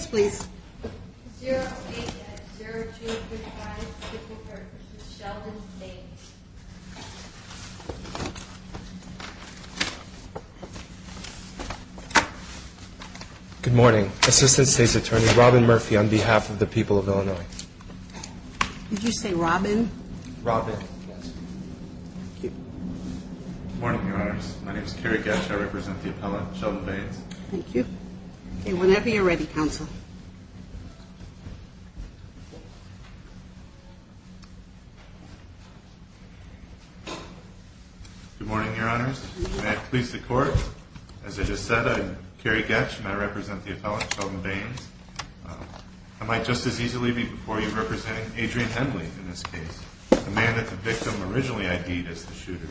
Good morning, Assistant State's Attorney Robin Murphy on behalf of the people of Illinois. Did you say Robin? Robin. Good morning, your honors. My name is Kerry Getsch. I represent the appellate Sheldon Baines. I might just as easily be before you representing Adrian Henley in this case, the man that the victim originally ID'd as the shooter.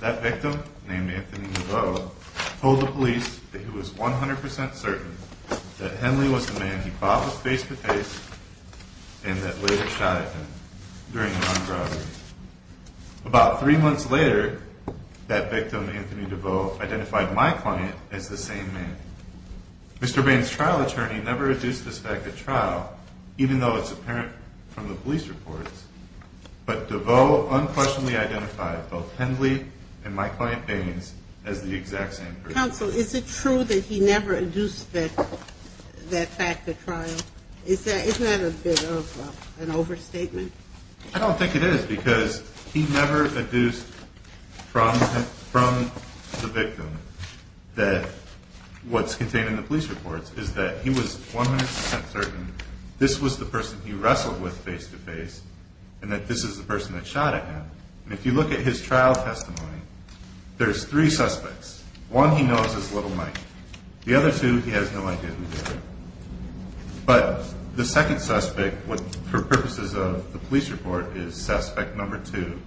That victim, named Anthony Niveau, told the police that he had a gunshot wound to his right shoulder. He was 100% certain that Henley was the man he fought with face-to-face and that later shot at him during an armed robbery. About three months later, that victim, Anthony Niveau, identified my client as the same man. Mr. Baines' trial attorney never adduced this fact at trial, even though it's apparent from the police reports. But Niveau unquestionably identified both Henley and my client Baines as the exact same person. Counsel, is it true that he never adduced that fact at trial? Isn't that a bit of an overstatement? I don't think it is because he never adduced from the victim that what's contained in the police reports is that he was 100% certain this was the person he wrestled with face-to-face and that this is the person that shot at him. If you look at his trial testimony, there's three suspects. One he knows is Little Mike. The other two he has no idea who they are. But the second suspect, for purposes of the police report, is suspect number two,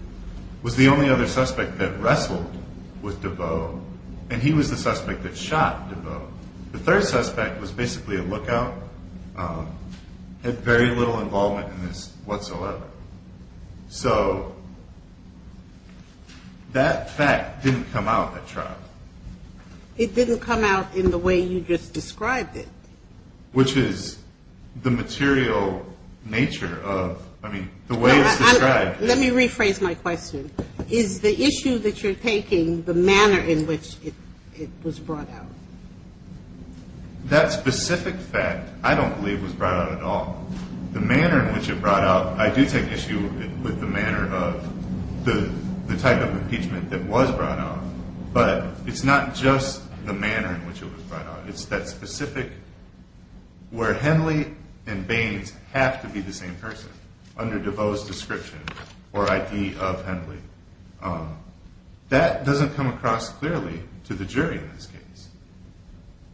was the only other suspect that wrestled with Niveau and he was the suspect that shot Niveau. The third suspect was basically a lookout, had very little involvement in this whatsoever. So that fact didn't come out at trial. It didn't come out in the way you just described it? Which is the material nature of, I mean, the way it's described. Let me rephrase my question. Is the issue that you're taking the manner in which it was brought out? That specific fact, I don't believe was brought out at all. The manner in which it was brought out, I do take issue with the manner of the type of impeachment that was brought out, but it's not just the manner in which it was brought out. It's that specific, where Henley and Baines have to be the same person under DeVoe's description or ID of Henley. That doesn't come across clearly to the jury in this case.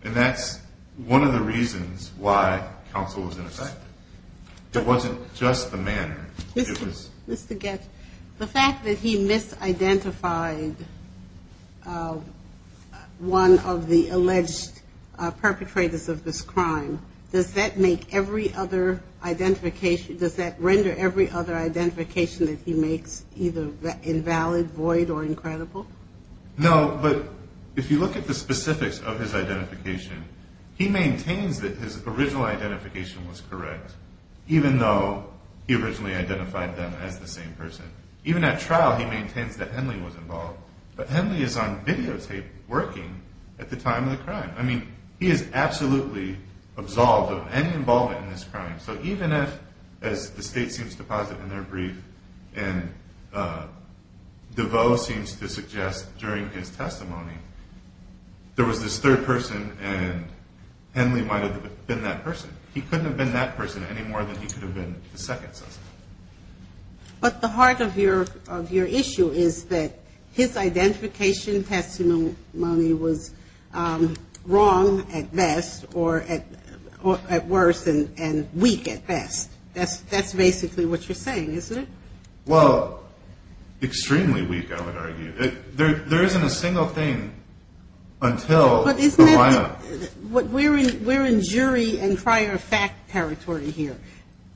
And that's one of the reasons why counsel was ineffective. It wasn't just the manner. Mr. Getz, the fact that he misidentified one of the alleged perpetrators of this crime, does that render every other identification that he makes either invalid, void, or incredible? No, but if you look at the specifics of his identification, he maintains that his original identification was correct, even though he originally identified them as the same person. Even at trial, he maintains that Henley was involved, but Henley is on videotape working at the time of the crime. I mean, he is absolutely absolved of any involvement in this crime. So even as the state seems to posit in their brief, and DeVoe seems to suggest during his testimony, there was this third person, and Henley might have been that person. He couldn't have been that person any more than he could have been the second suspect. But the heart of your issue is that his identification testimony was wrong at best, or at worst, and weak at best. That's basically what you're saying, isn't it? Well, extremely weak, I would argue. There isn't a single thing until the lineup. We're in jury and prior fact territory here.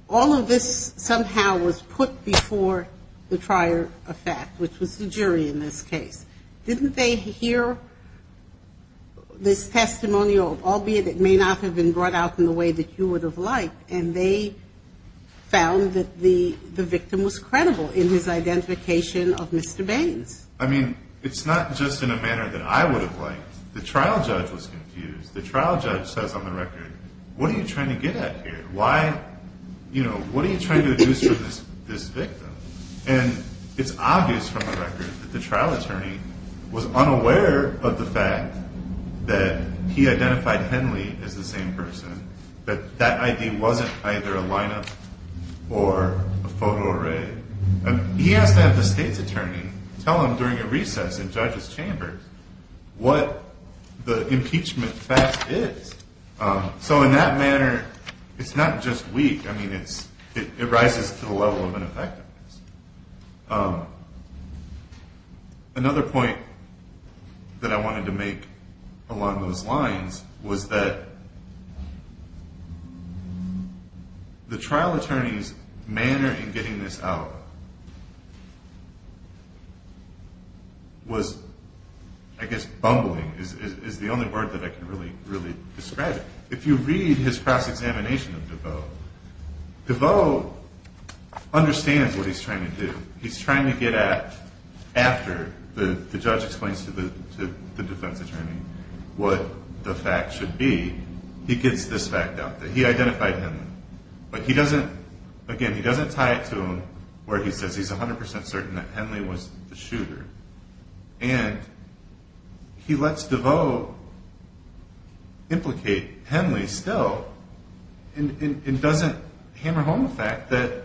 All of this somehow was put before the prior effect, which was the jury in this case. Didn't they hear this testimony, albeit it may not have been brought out in the way that you would have liked, and they found that the victim was credible in his identification of Mr. Baines? I mean, it's not just in a manner that I would have liked. The trial judge was confused. The trial judge says on the record, what are you trying to get at here? What are you trying to deduce from this victim? And it's obvious from the record that the trial attorney was unaware of the fact that he identified Henley as the same person, that that ID wasn't either a lineup or a photo array. He has to have the state's attorney tell him during a recess in judges' chambers what the impeachment fact is. So in that manner, it's not just weak. I mean, it rises to the level of ineffectiveness. Another point that I wanted to make along those lines was that the trial attorney's manner in getting this out was, I guess, bumbling, is the only word that I can really, really describe it. If you read his cross-examination of DeVoe, DeVoe understands what he's trying to do. He's trying to get at, after the judge explains to the defense attorney what the fact should be, he gets this fact out, that he identified Henley. But he doesn't, again, he doesn't tie it to where he says he's 100% certain that Henley was the shooter. And he lets DeVoe implicate Henley still and doesn't hammer home the fact that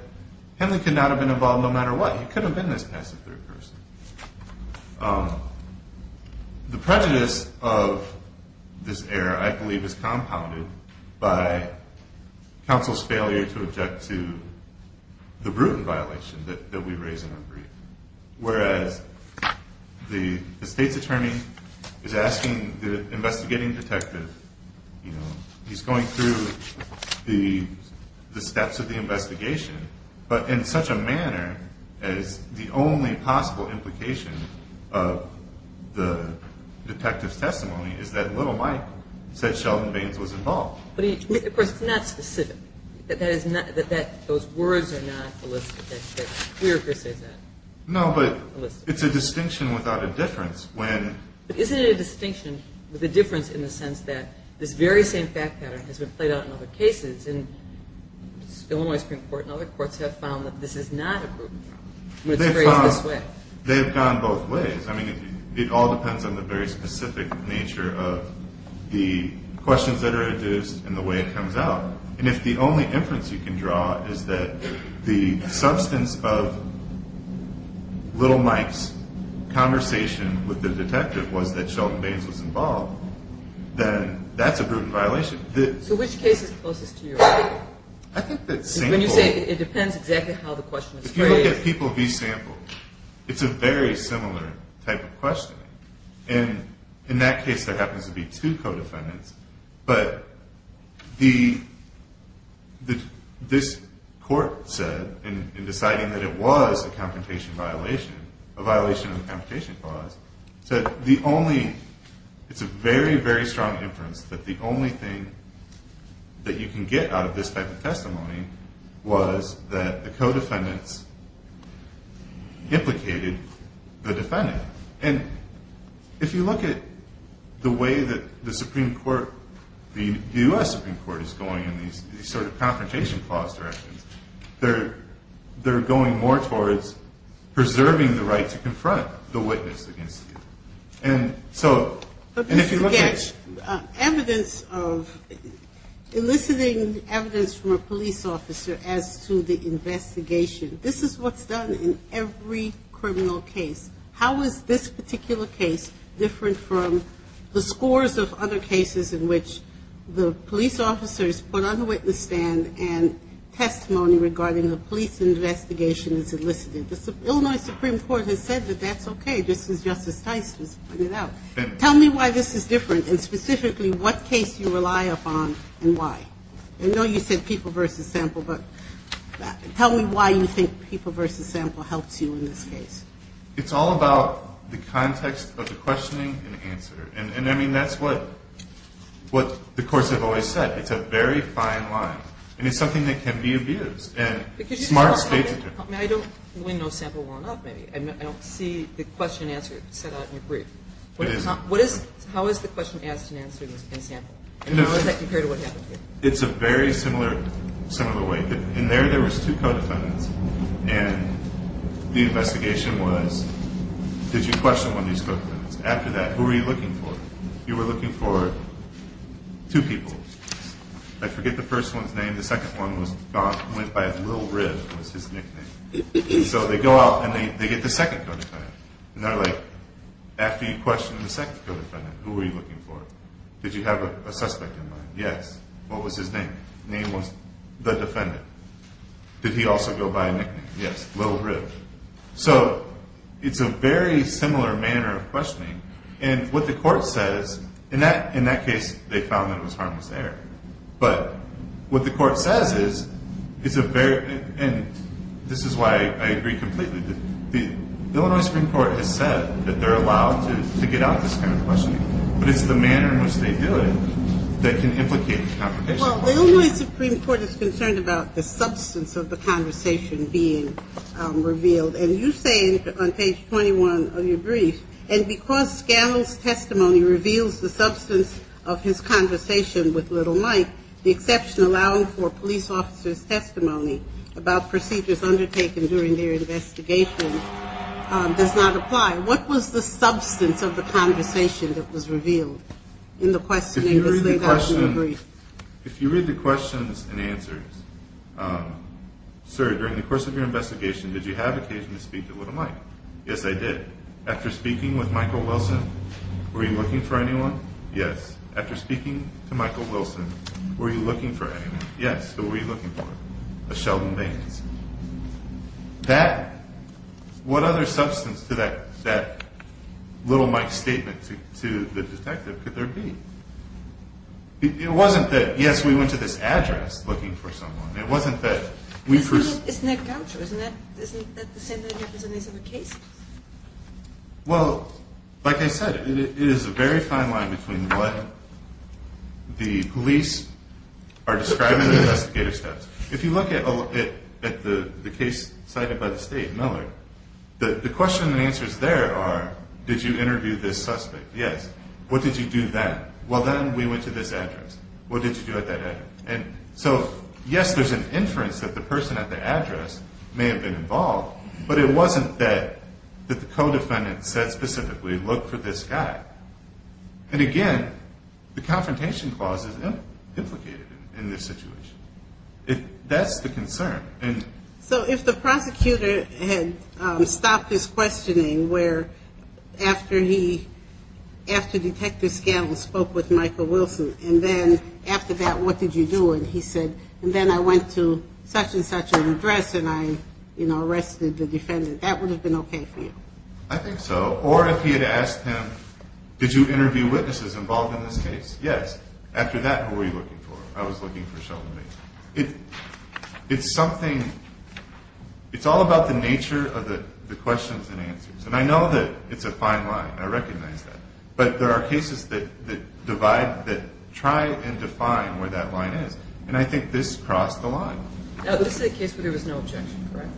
Henley could not have been involved no matter what. He could have been this passive third person. The prejudice of this error, I believe, is compounded by counsel's failure to object to the Bruton violation that we raise in our brief. Whereas the state's attorney is asking the investigating detective, he's going through the steps of the investigation, but in such a manner as the only possible implication of the detective's testimony is that little Mike said Sheldon Baines was involved. Of course, it's not specific. Those words are not elicited. We're here to say that. No, but it's a distinction without a difference. Isn't it a distinction with a difference in the sense that this very same fact pattern has been played out in other cases, and the Illinois Supreme Court and other courts have found that this is not a Bruton problem. They've gone both ways. I mean, it all depends on the very specific nature of the questions that are induced and the way it comes out. And if the only inference you can draw is that the substance of little Mike's conversation with the detective was that Sheldon Baines was involved, then that's a Bruton violation. So which case is closest to your opinion? I think that sample. If you look at people v. sample, it's a very similar type of question. And in that case, there happens to be two co-defendants. But this court said in deciding that it was a confrontation violation, a violation of the confrontation clause, said the only – it's a very, very strong inference that the only thing that you can get out of this type of testimony was that the co-defendants implicated the defendant. And if you look at the way that the Supreme Court, the U.S. Supreme Court, is going in these sort of confrontation clause directions, they're going more towards preserving the right to confront the witness against you. But, Mr. Getsch, evidence of – eliciting evidence from a police officer as to the investigation, this is what's done in every criminal case. How is this particular case different from the scores of other cases in which the police officers put on the witness stand and testimony regarding the police investigation is elicited? The Illinois Supreme Court has said that that's okay. This is Justice Tice just putting it out. Tell me why this is different and specifically what case you rely upon and why. I know you said people versus sample, but tell me why you think people versus sample helps you in this case. It's all about the context of the questioning and answer. And, I mean, that's what the courts have always said. It's a very fine line. And it's something that can be abused. And smart states are different. I mean, I don't – we know sample well enough, maybe. I don't see the question and answer set out in your brief. What is it? How is the question asked and answered in sample? How is that compared to what happened here? It's a very similar way. In there, there was two co-defendants, and the investigation was, did you question one of these co-defendants? After that, who were you looking for? You were looking for two people. I forget the first one's name. The second one went by Lil Riv was his nickname. So they go out and they get the second co-defendant. And they're like, after you questioned the second co-defendant, who were you looking for? Did you have a suspect in mind? Yes. What was his name? Name was the defendant. Did he also go by a nickname? Yes. Lil Riv. So it's a very similar manner of questioning. And what the court says, in that case, they found that it was harmless error. But what the court says is, it's a very, and this is why I agree completely, the Illinois Supreme Court has said that they're allowed to get out this kind of questioning. But it's the manner in which they do it that can implicate a complication. Well, the Illinois Supreme Court is concerned about the substance of the conversation being revealed. And you say on page 21 of your brief, and because Scalise's testimony reveals the substance of his conversation with Lil Mike, the exception allowing for police officers' testimony about procedures undertaken during their investigation does not apply. What was the substance of the conversation that was revealed in the questioning? If you read the questions and answers, sir, during the course of your investigation, did you have occasion to speak to Lil Mike? Yes, I did. After speaking with Michael Wilson, were you looking for anyone? Yes. After speaking to Michael Wilson, were you looking for anyone? Yes. Who were you looking for? A Sheldon Baines. That, what other substance to that Lil Mike statement to the detective could there be? It wasn't that, yes, we went to this address looking for someone. It wasn't that we first. Isn't that counter? Isn't that the same thing that happens in these other cases? Well, like I said, it is a very fine line between what the police are describing and the investigative steps. If you look at the case cited by the state, Miller, the question and answers there are, did you interview this suspect? Yes. What did you do then? Well, then we went to this address. What did you do at that address? And so, yes, there's an inference that the person at the address may have been involved, but it wasn't that the co-defendant said specifically, look for this guy. And, again, the confrontation clause is implicated in this situation. That's the concern. So if the prosecutor had stopped his questioning where after he, after Detective Scanlon spoke with Michael Wilson, and then after that, what did you do? And he said, and then I went to such and such an address and I, you know, arrested the defendant. That would have been okay for you. I think so. Or if he had asked him, did you interview witnesses involved in this case? Yes. After that, who were you looking for? I was looking for Sheldon Bates. It's something, it's all about the nature of the questions and answers. And I know that it's a fine line. I recognize that. But there are cases that divide, that try and define where that line is. And I think this crossed the line. Now, this is a case where there was no objection, correct?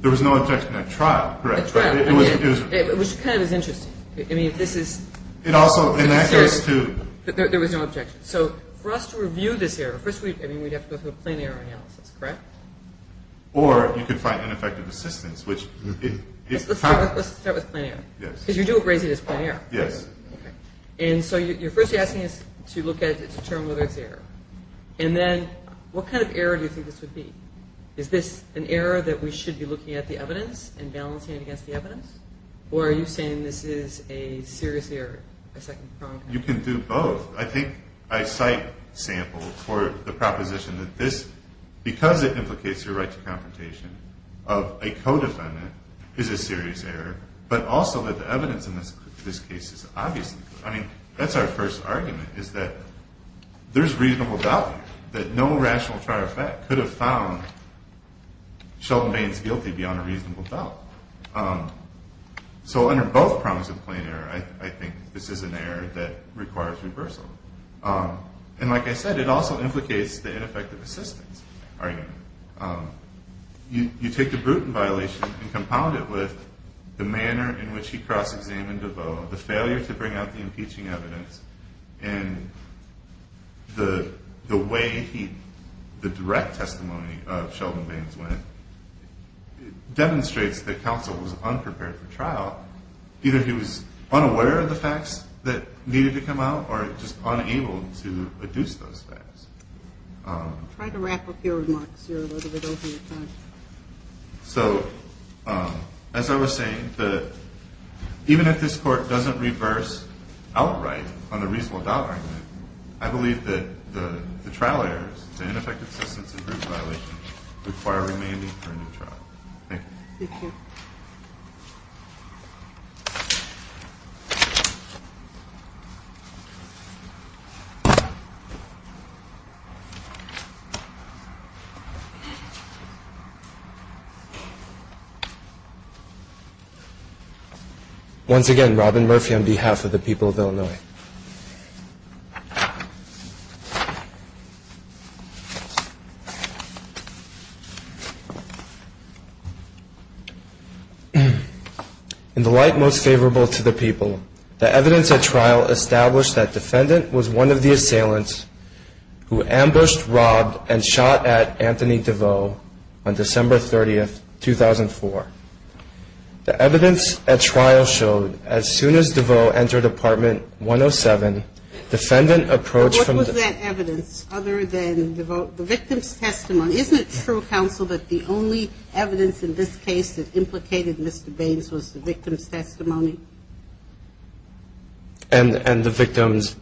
There was no objection at trial, correct? At trial. It was kind of as interesting. I mean, this is... It also, in that case, too... There was no objection. So for us to review this error, first we, I mean, we'd have to go through a plain error analysis, correct? Or you could find ineffective assistance, which is... Let's start with plain error. Yes. Because you do appraise it as plain error. Yes. Okay. And so you're first asking us to look at it to determine whether it's error. And then what kind of error do you think this would be? Is this an error that we should be looking at the evidence and balancing it against the evidence? Or are you saying this is a serious error, a second-pronged error? You can do both. I think I cite samples for the proposition that this, because it implicates your right to confrontation of a codefendant, is a serious error. But also that the evidence in this case is obviously... I mean, that's our first argument, is that there's reasonable doubt that no rational trial effect could have found Sheldon Baines guilty beyond a reasonable doubt. So under both prongs of plain error, I think this is an error that requires reversal. And like I said, it also implicates the ineffective assistance argument. You take the Bruton violation and compound it with the manner in which he cross-examined DeVoe, the failure to bring out the impeaching evidence, and the way the direct testimony of Sheldon Baines went demonstrates that counsel was unprepared for trial. Either he was unaware of the facts that needed to come out or just unable to deduce those facts. Try to wrap up your remarks. You're a little bit over your time. So as I was saying, even if this Court doesn't reverse outright on the reasonable doubt argument, I believe that the trial errors, the ineffective assistance and Bruton violations, require remaining for a new trial. Thank you. Thank you. Once again, Robyn Murphy on behalf of the people of Illinois. In the light most favorable to the people, the evidence at trial established that defendant was one of the assailants who ambushed, robbed, and shot at Anthony DeVoe on December 30th, 2004. The evidence at trial showed as soon as DeVoe entered Apartment 107, defendant approached from the ---- What was that evidence other than the victim's testimony? Isn't it true, counsel, that the only evidence in this case that implicated Mr. Baines was the victim's testimony? And the victim's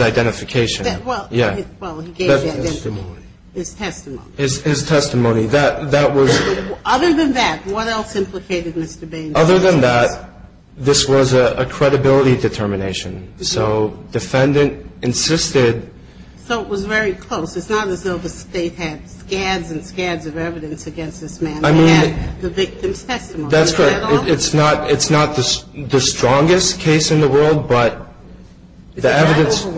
identification. Well, he gave the identification. His testimony. His testimony. That was ---- Other than that, what else implicated Mr. Baines? Other than that, this was a credibility determination. So defendant insisted ---- So it was very close. It's not as though the State had scads and scads of evidence against this man. I mean ---- He had the victim's testimony. That's correct. It's not the strongest case in the world, but the evidence ---- Justice Scalia, I'm just asking about that last part about the determination. Was the determination overwhelming? It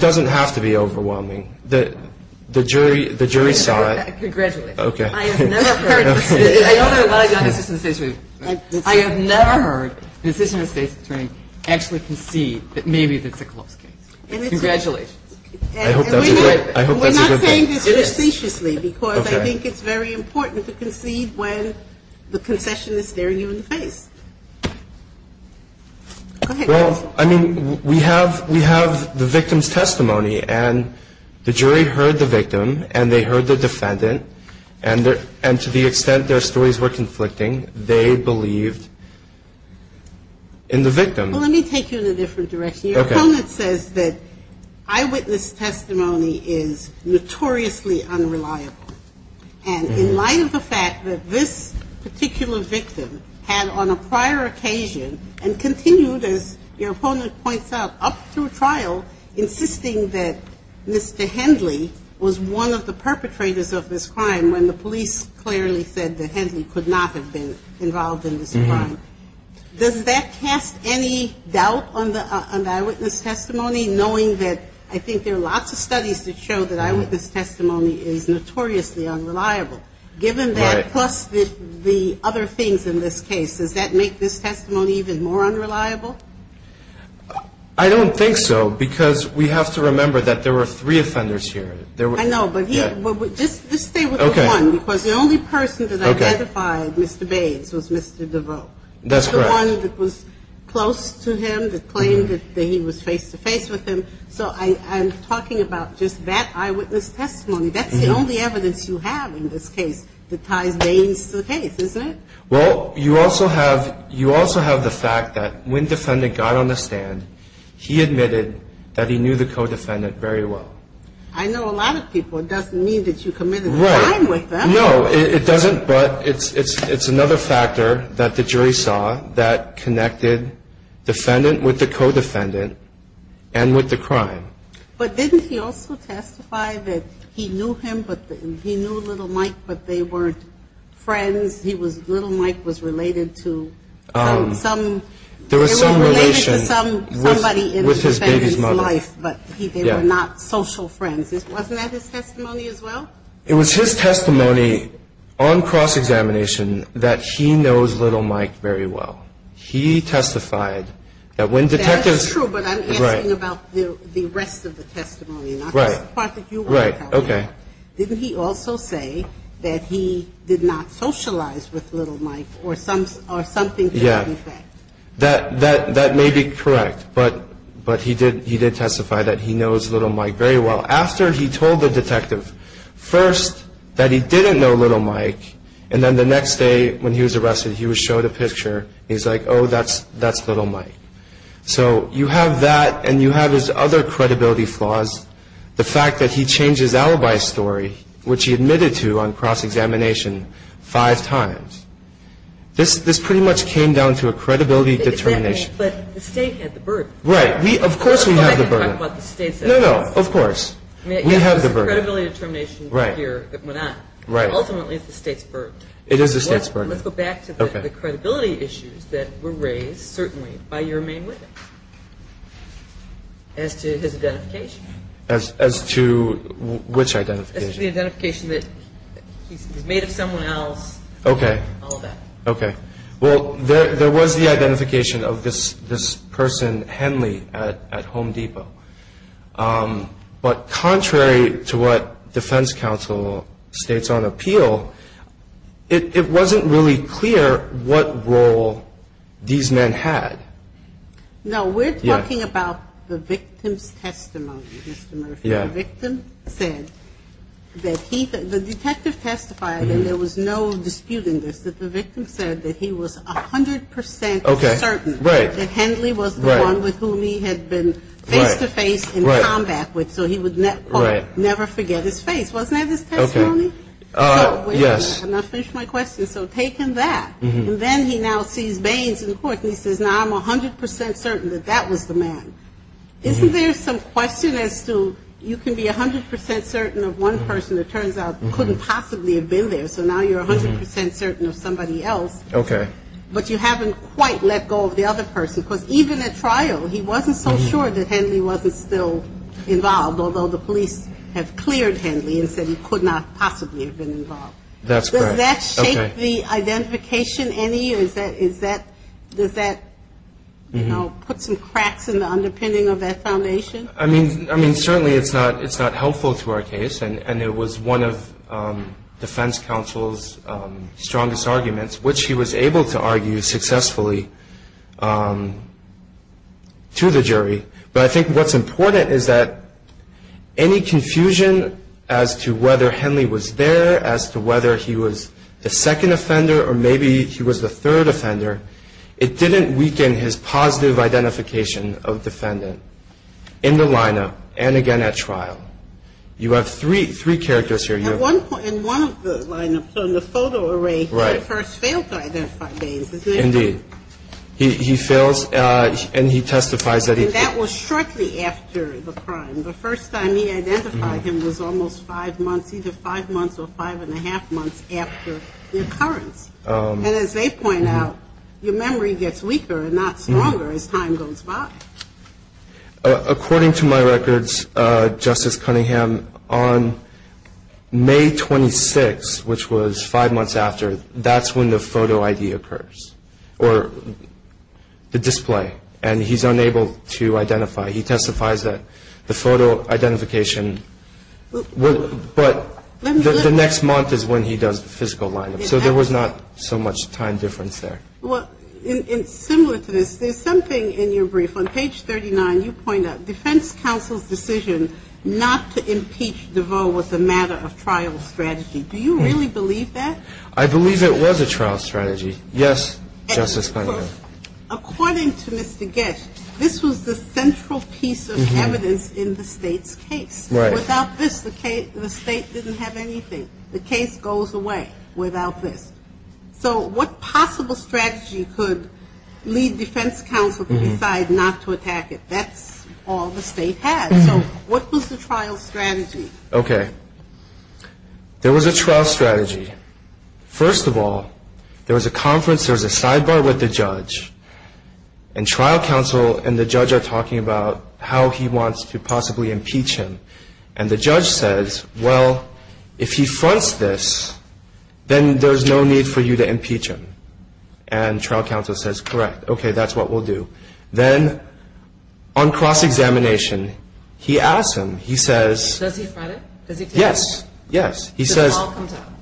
doesn't have to be overwhelming. The jury saw it. Congratulations. I have never heard ---- I want to go back to the insistent statement. I have never heard an insistent statement actually concede that maybe this is a close case. Congratulations. We are not saying this facetiously, because I think it's very important to concede when the concession is staring you in the face. Go ahead. Well, I mean, we have the victim's testimony, and the jury heard the victim, and they heard the defendant, and to the extent their stories were conflicting, they believed in the victim. Well, let me take you in a different direction. Your opponent says that eyewitness testimony is notoriously unreliable, and in light of the fact that this particular victim had on a prior occasion and continued, as your opponent points out, up through trial, insisting that Mr. Hendley was one of the perpetrators of this crime when the police clearly said that Hendley could not have been involved in this crime. Does that cast any doubt on the eyewitness testimony, knowing that I think there are lots of studies that show that eyewitness testimony is notoriously unreliable, given that, plus the other things in this case, does that make this testimony even more unreliable? I don't think so, because we have to remember that there were three offenders here. I know, but just stay with the one, because the only person that identified Mr. Bates was Mr. DeVoe. That's correct. And that's the only person that was close to him, that claimed that he was face-to-face with him. So I'm talking about just that eyewitness testimony. That's the only evidence you have in this case that ties Bates to the case, isn't it? Well, you also have the fact that when defendant got on the stand, he admitted that he knew the co-defendant very well. I know a lot of people. It doesn't mean that you committed a crime with them. Right. No, it doesn't. But it's another factor that the jury saw that connected defendant with the co-defendant and with the crime. But didn't he also testify that he knew him, he knew little Mike, but they weren't friends? Little Mike was related to somebody in the defendant's life, but they were not social friends. Wasn't that his testimony as well? It was his testimony on cross-examination that he knows little Mike very well. He testified that when detectives ---- That's true, but I'm asking about the rest of the testimony, not just the part that you are talking about. Right. Okay. Didn't he also say that he did not socialize with little Mike or something to that effect? Yeah. That may be correct, but he did testify that he knows little Mike very well. After he told the detective first that he didn't know little Mike, and then the next day when he was arrested, he was showed a picture. He's like, oh, that's little Mike. So you have that and you have his other credibility flaws, the fact that he changed his alibi story, which he admitted to on cross-examination five times. This pretty much came down to a credibility determination. But the state had the burden. Right. Of course we have the burden. No, no, of course. We have the burden. It's the credibility determination here that went on. Right. Ultimately, it's the state's burden. It is the state's burden. Let's go back to the credibility issues that were raised, certainly, by your main witness as to his identification. As to which identification? As to the identification that he's made of someone else. Okay. All of that. Okay. Well, there was the identification of this person, Henley, at Home Depot. But contrary to what defense counsel states on appeal, it wasn't really clear what role these men had. No, we're talking about the victim's testimony, Mr. Murphy. Yeah. The victim said that he, the detective testified, and there was no dispute in this, that the victim said that he was 100% certain that Henley was the one with whom he had been face-to-face in combat with, so he would, quote, never forget his face. Wasn't that his testimony? Okay. Yes. I'm going to finish my question. So take him that. And then he now sees Baines in court, and he says, now I'm 100% certain that that was the man. Isn't there some question as to you can be 100% certain of one person that turns out couldn't possibly have been there? So now you're 100% certain of somebody else. Okay. But you haven't quite let go of the other person. Because even at trial, he wasn't so sure that Henley wasn't still involved, although the police have cleared Henley and said he could not possibly have been involved. That's correct. Okay. Does that shake the identification any? Does that, you know, put some cracks in the underpinning of that foundation? I mean, certainly it's not helpful to our case. And it was one of defense counsel's strongest arguments, which he was able to argue successfully to the jury. But I think what's important is that any confusion as to whether Henley was there, as to whether he was the second offender or maybe he was the third offender, it didn't weaken his positive identification of defendant in the lineup and, again, at trial. You have three characters here. In one of the lineups, in the photo array, he first failed to identify Baines, didn't he? Indeed. He fails, and he testifies that he failed. And that was shortly after the crime. The first time he identified him was almost five months, either five months or five and a half months after the occurrence. And as they point out, your memory gets weaker and not stronger as time goes by. According to my records, Justice Cunningham, on May 26th, which was five months after, that's when the photo ID occurs, or the display. And he's unable to identify. He testifies that the photo identification, but the next month is when he does the physical lineup. So there was not so much time difference there. Well, similar to this, there's something in your brief. On page 39, you point out, defense counsel's decision not to impeach DeVos was a matter of trial strategy. Do you really believe that? I believe it was a trial strategy, yes, Justice Cunningham. According to Mr. Getsch, this was the central piece of evidence in the State's case. Without this, the State didn't have anything. The case goes away without this. So what possible strategy could lead defense counsel to decide not to attack it? That's all the State has. So what was the trial strategy? Okay. There was a trial strategy. First of all, there was a conference, there was a sidebar with the judge, and trial counsel and the judge are talking about how he wants to possibly impeach him. And the judge says, well, if he fronts this, then there's no need for you to impeach him. And trial counsel says, correct. Okay, that's what we'll do. Then on cross-examination, he asks him, he says. Does he front it? Does he take it? Yes. Does it all come out?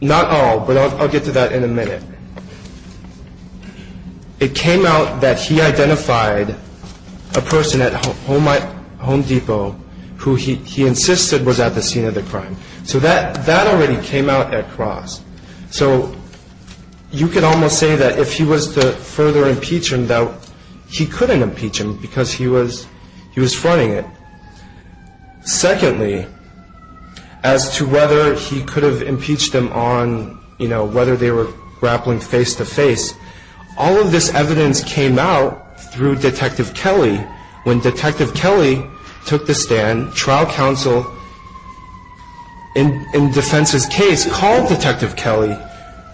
Not all, but I'll get to that in a minute. It came out that he identified a person at Home Depot who he insisted was at the scene of the crime. So that already came out at cross. So you could almost say that if he was to further impeach him, that he couldn't impeach him because he was fronting it. Secondly, as to whether he could have impeached him on, you know, whether they were grappling face-to-face, all of this evidence came out through Detective Kelly. When Detective Kelly took the stand, trial counsel, in defense's case, called Detective Kelly,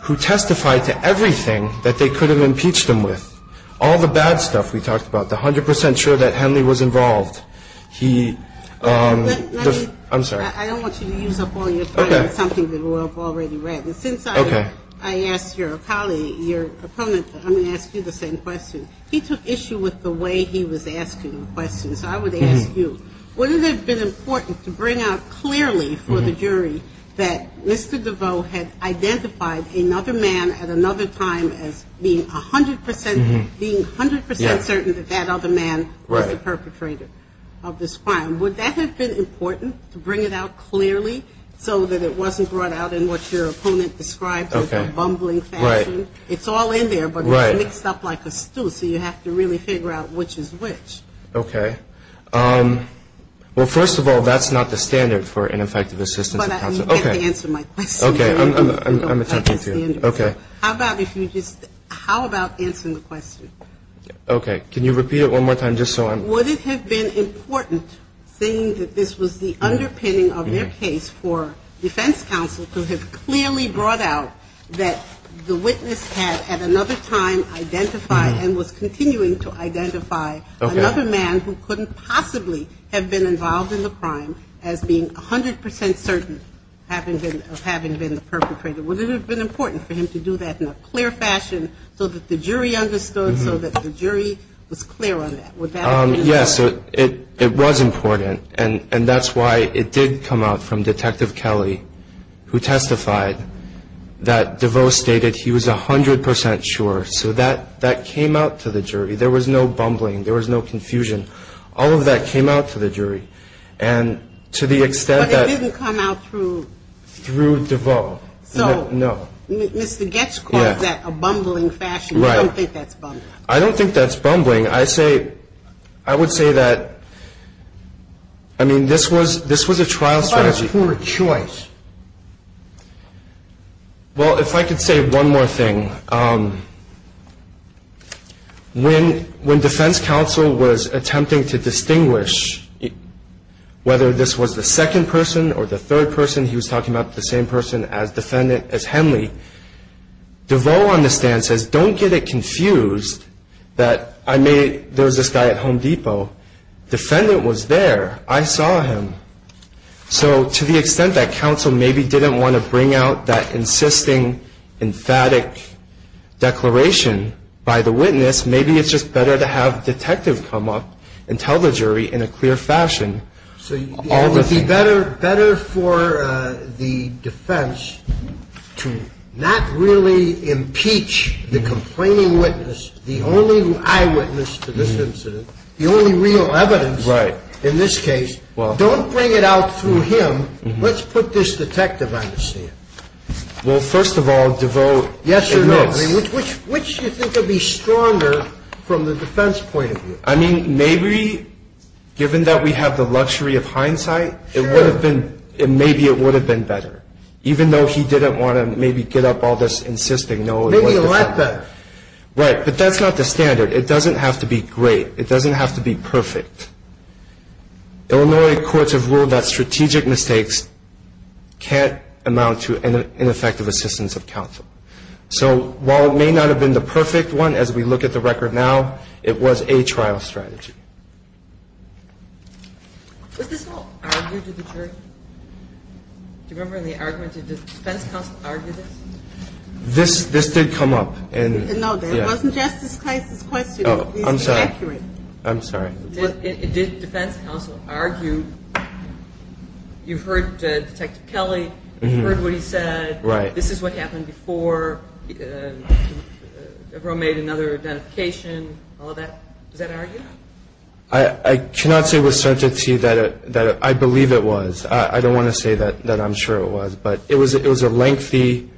who testified to everything that they could have impeached him with. All the bad stuff we talked about, the 100% sure that Henley was involved. I'm sorry. I don't want you to use up all your time on something that we've already read. And since I asked your colleague, your opponent, I'm going to ask you the same question. He took issue with the way he was asking the question. So I would ask you, wouldn't it have been important to bring out clearly for the jury that Mr. DeVoe had identified another man at another time as being 100% certain that that other man was the perpetrator of this crime? Would that have been important to bring it out clearly so that it wasn't brought out in what your opponent described as a bumbling fashion? Right. It's all in there, but it's mixed up like a stew, so you have to really figure out which is which. Okay. Well, first of all, that's not the standard for ineffective assistance. But you have to answer my question. Okay. I'm attempting to. How about if you just – how about answering the question? Okay. Can you repeat it one more time just so I'm – Would it have been important, seeing that this was the underpinning of their case for defense counsel to have clearly brought out that the witness had at another time identified and was continuing to identify another man who couldn't possibly have been involved in the crime as being 100% certain of having been the perpetrator? Would it have been important for him to do that in a clear fashion so that the jury understood, so that the jury was clear on that? Would that have been important? It was important, and that's why it did come out from Detective Kelly, who testified that DeVos stated he was 100% sure. So that came out to the jury. There was no bumbling. There was no confusion. All of that came out to the jury. And to the extent that – But it didn't come out through – Through DeVos. So – No. Mr. Goetz calls that a bumbling fashion. Right. I don't think that's bumbling. I don't think that's bumbling. I say – I would say that, I mean, this was a trial strategy. What about a poor choice? Well, if I could say one more thing. When Defense Counsel was attempting to distinguish whether this was the second person or the third person, he was talking about the same person as Henley, DeVos on the stand says, don't get it confused that I made – there was this guy at Home Depot. Defendant was there. I saw him. So to the extent that counsel maybe didn't want to bring out that insisting, emphatic declaration by the witness, maybe it's just better to have Detective come up and tell the jury in a clear fashion. It would be better for the defense to not really impeach the complaining witness, the only eyewitness to this incident, the only real evidence in this case. Don't bring it out through him. Let's put this detective on the stand. Well, first of all, DeVos admits – Yes or no. I mean, maybe given that we have the luxury of hindsight, it would have been – maybe it would have been better. Even though he didn't want to maybe get up all this insisting. Maybe let the – Right, but that's not the standard. It doesn't have to be great. It doesn't have to be perfect. Illinois courts have ruled that strategic mistakes can't amount to ineffective assistance of counsel. So while it may not have been the perfect one, as we look at the record now, it was a trial strategy. Was this all argued to the jury? Do you remember in the argument, did the defense counsel argue this? This did come up. No, that wasn't Justice Kleist's question. Oh, I'm sorry. It was accurate. I'm sorry. Did defense counsel argue, you've heard Detective Kelly, you've heard what he said. Right. This is what happened before Avril made another identification, all of that. Was that argued? I cannot say with certainty that I believe it was. I don't want to say that I'm sure it was. But it was a lengthy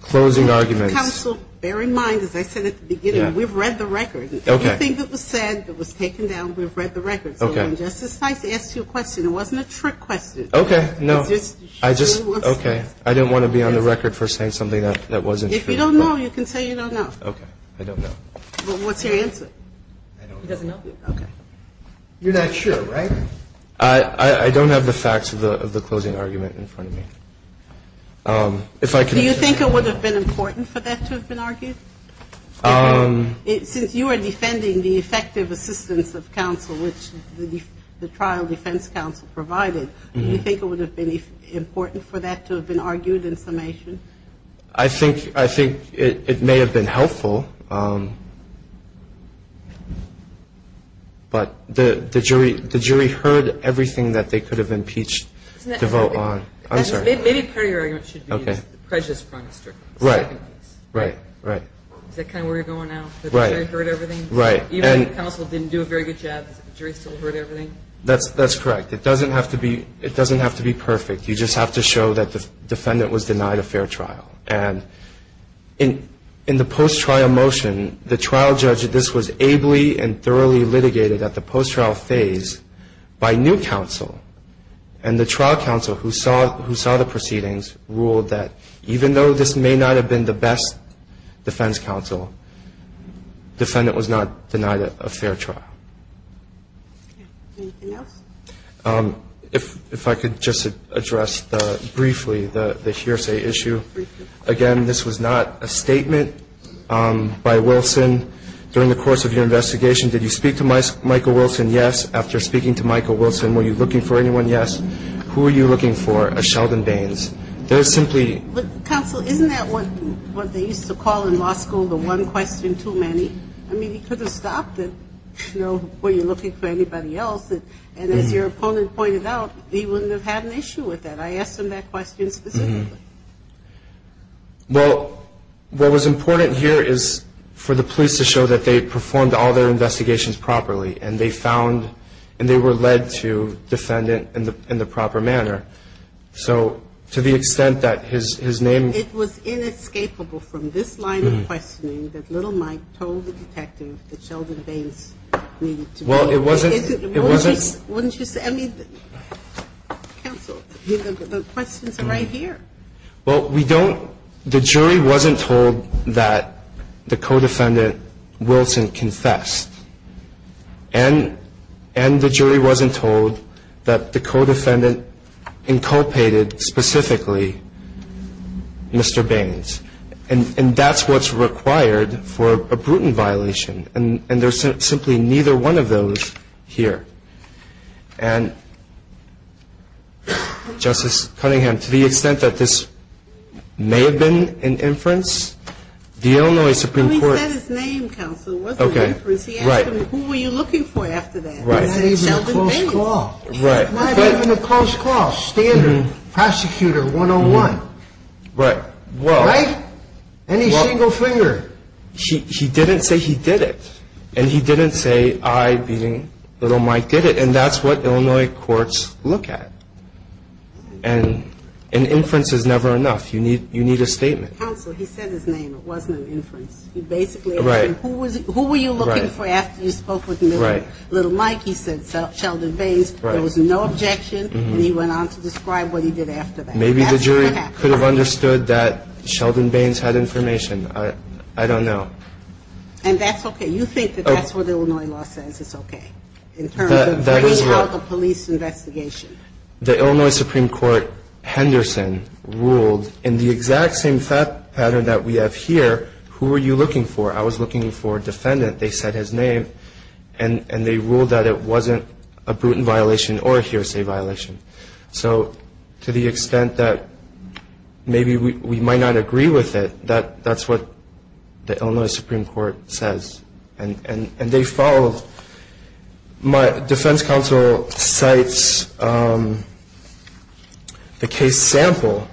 closing argument. Counsel, bear in mind, as I said at the beginning, we've read the record. Okay. Everything that was said that was taken down, we've read the record. Okay. So when Justice Kleist asked you a question, it wasn't a trick question. Okay. No. I just – I don't have the facts on the record for saying something that wasn't true. If you don't know, you can say you don't know. Okay. I don't know. Well, what's your answer? I don't know. He doesn't know. Okay. You're not sure, right? I don't have the facts of the closing argument in front of me. If I can – Do you think it would have been important for that to have been argued? Since you are defending the effective assistance of counsel, which the trial defense counsel provided, do you think it would have been important for that to have been argued in summation? I think it may have been helpful. But the jury heard everything that they could have impeached to vote on. I'm sorry. Maybe part of your argument should be the prejudice front is stricken. Right. Right. Right. Is that kind of where you're going now? That the jury heard everything? Right. Even if counsel didn't do a very good job, the jury still heard everything? That's correct. It doesn't have to be perfect. You just have to show that the defendant was denied a fair trial. And in the post-trial motion, the trial judge, this was ably and thoroughly litigated at the post-trial phase by new counsel. And the trial counsel who saw the proceedings ruled that even though this may not have been the best defense counsel, defendant was not denied a fair trial. Anything else? If I could just address briefly the hearsay issue. Briefly. Again, this was not a statement by Wilson. During the course of your investigation, did you speak to Michael Wilson? Yes. After speaking to Michael Wilson, were you looking for anyone? Yes. Who were you looking for? A Sheldon Baines. There is simply ñ But, counsel, isn't that what they used to call in law school the one question too many? I mean, he could have stopped it, you know, before you're looking for anybody else. And as your opponent pointed out, he wouldn't have had an issue with that. I asked him that question specifically. Well, what was important here is for the police to show that they performed all their investigations properly and they found and they were led to defendant in the proper manner. So to the extent that his name ñ Well, it wasn't ñ Wouldn't you say ñ I mean, counsel, the questions are right here. Well, we don't ñ the jury wasn't told that the co-defendant, Wilson, confessed. And the jury wasn't told that the co-defendant inculpated specifically Mr. Baines. And that's what's required for a Bruton violation. And there's simply neither one of those here. And, Justice Cunningham, to the extent that this may have been an inference, the Illinois Supreme Court ñ Well, he said his name, counsel. It wasn't an inference. He asked him, who were you looking for after that? He said Sheldon Baines. Right. Not even a close call. Right. Not even a close call. Standard prosecutor 101. Right. Well ñ Right? Any single finger. He didn't say he did it. And he didn't say I, being little Mike, did it. And that's what Illinois courts look at. And an inference is never enough. You need a statement. Counsel, he said his name. It wasn't an inference. He basically asked him, who were you looking for after you spoke with little Mike? He said Sheldon Baines. Right. There was no objection. And he went on to describe what he did after that. That's what happened. Maybe the jury could have understood that Sheldon Baines had information. I don't know. And that's okay. You think that that's what the Illinois law says is okay in terms of bringing out the police investigation. The Illinois Supreme Court, Henderson, ruled in the exact same pattern that we have here, who were you looking for. I was looking for a defendant. They said his name. And they ruled that it wasn't a Bruton violation or a hearsay violation. So to the extent that maybe we might not agree with it, that's what the Illinois Supreme Court says. And they follow. My defense counsel cites the case sample.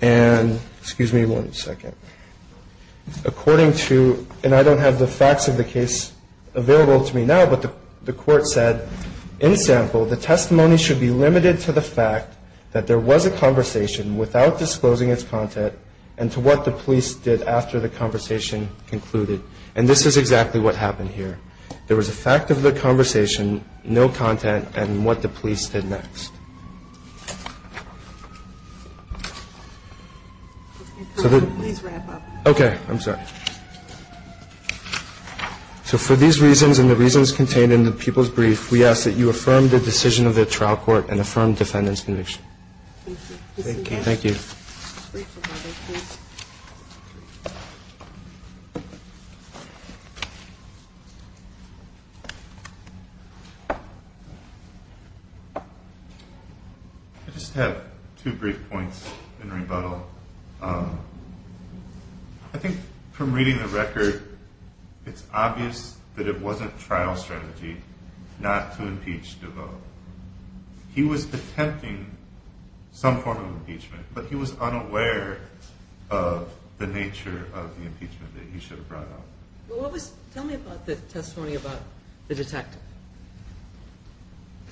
And excuse me one second. According to, and I don't have the facts of the case available to me now, but the court said in sample, the testimony should be limited to the fact that there was a conversation without disclosing its content and to what the police did after the conversation concluded. And this is exactly what happened here. There was a fact of the conversation, no content, and what the police did next. Okay. I'm sorry. So for these reasons and the reasons contained in the people's brief, we ask that you affirm the decision of the trial court and affirm defendant's conviction. Thank you. Thank you. I just have two brief points in rebuttal. I think from reading the record, it's obvious that it wasn't trial strategy not to impeach DeVoe. He was attempting some form of impeachment, but he was unaware of the nature of the impeachment that he should have brought up. Tell me about the testimony about the detective.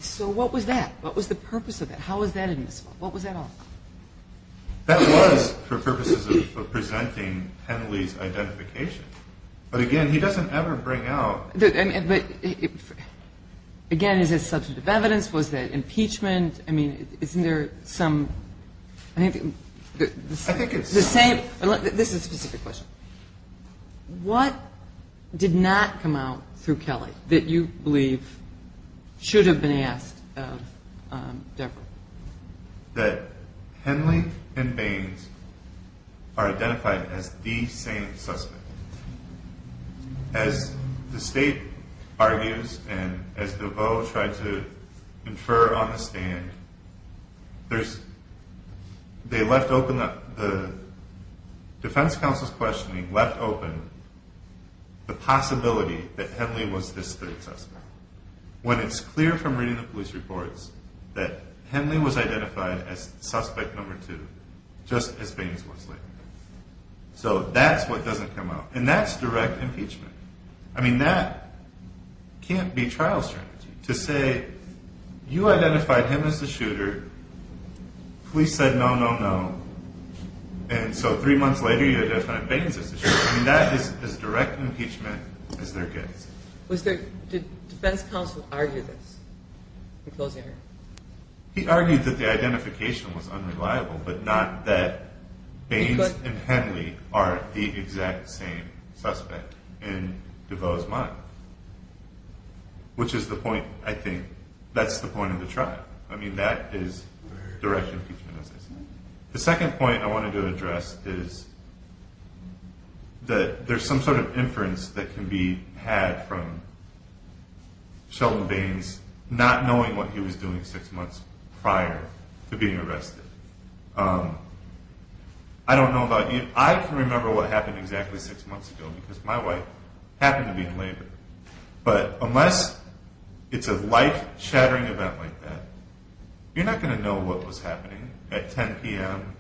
So what was that? What was the purpose of that? How was that in this? What was that all about? That was for purposes of presenting Henley's identification. But, again, he doesn't ever bring out. But, again, is it substantive evidence? Was that impeachment? I mean, isn't there some? I think it's the same. This is a specific question. What did not come out through Kelly that you believe should have been asked of DeVoe? That Henley and Baines are identified as the same suspect. As the state argues and as DeVoe tried to infer on the stand, they left open the defense counsel's questioning, left open the possibility that Henley was this third suspect. When it's clear from reading the police reports that Henley was identified as suspect number two, just as Baines was later. So that's what doesn't come out. And that's direct impeachment. I mean, that can't be trial strategy. To say you identified him as the shooter, police said no, no, no, and so three months later you identified Baines as the shooter. I mean, that is as direct impeachment as there gets. Did defense counsel argue this in closing her? He argued that the identification was unreliable, but not that Baines and Henley are the exact same suspect in DeVoe's mind, which is the point, I think, that's the point of the trial. I mean, that is direct impeachment, as I said. The second point I wanted to address is that there's some sort of inference that can be had from Sheldon Baines not knowing what he was doing six months prior to being arrested. I don't know about you. I can remember what happened exactly six months ago because my wife happened to be in labor. But unless it's a life-shattering event like that, you're not going to know what was happening at 10 p.m.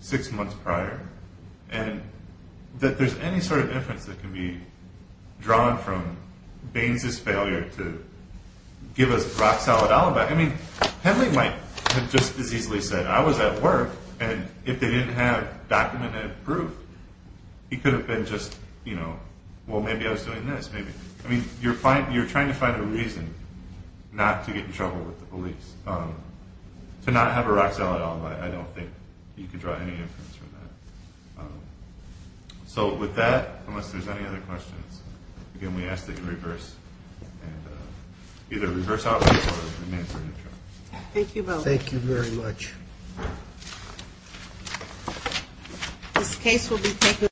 six months prior, and that there's any sort of inference that can be drawn from Baines' failure to give us a rock-solid alibi. I mean, Henley might have just as easily said, I was at work, and if they didn't have documented proof, he could have been just, you know, well, maybe I was doing this, maybe. I mean, you're trying to find a reason not to get in trouble with the police. To not have a rock-solid alibi, I don't think you could draw any inference from that. So with that, unless there's any other questions, again, we ask that you reverse and either reverse out or remain in the room. Thank you both. Thank you very much.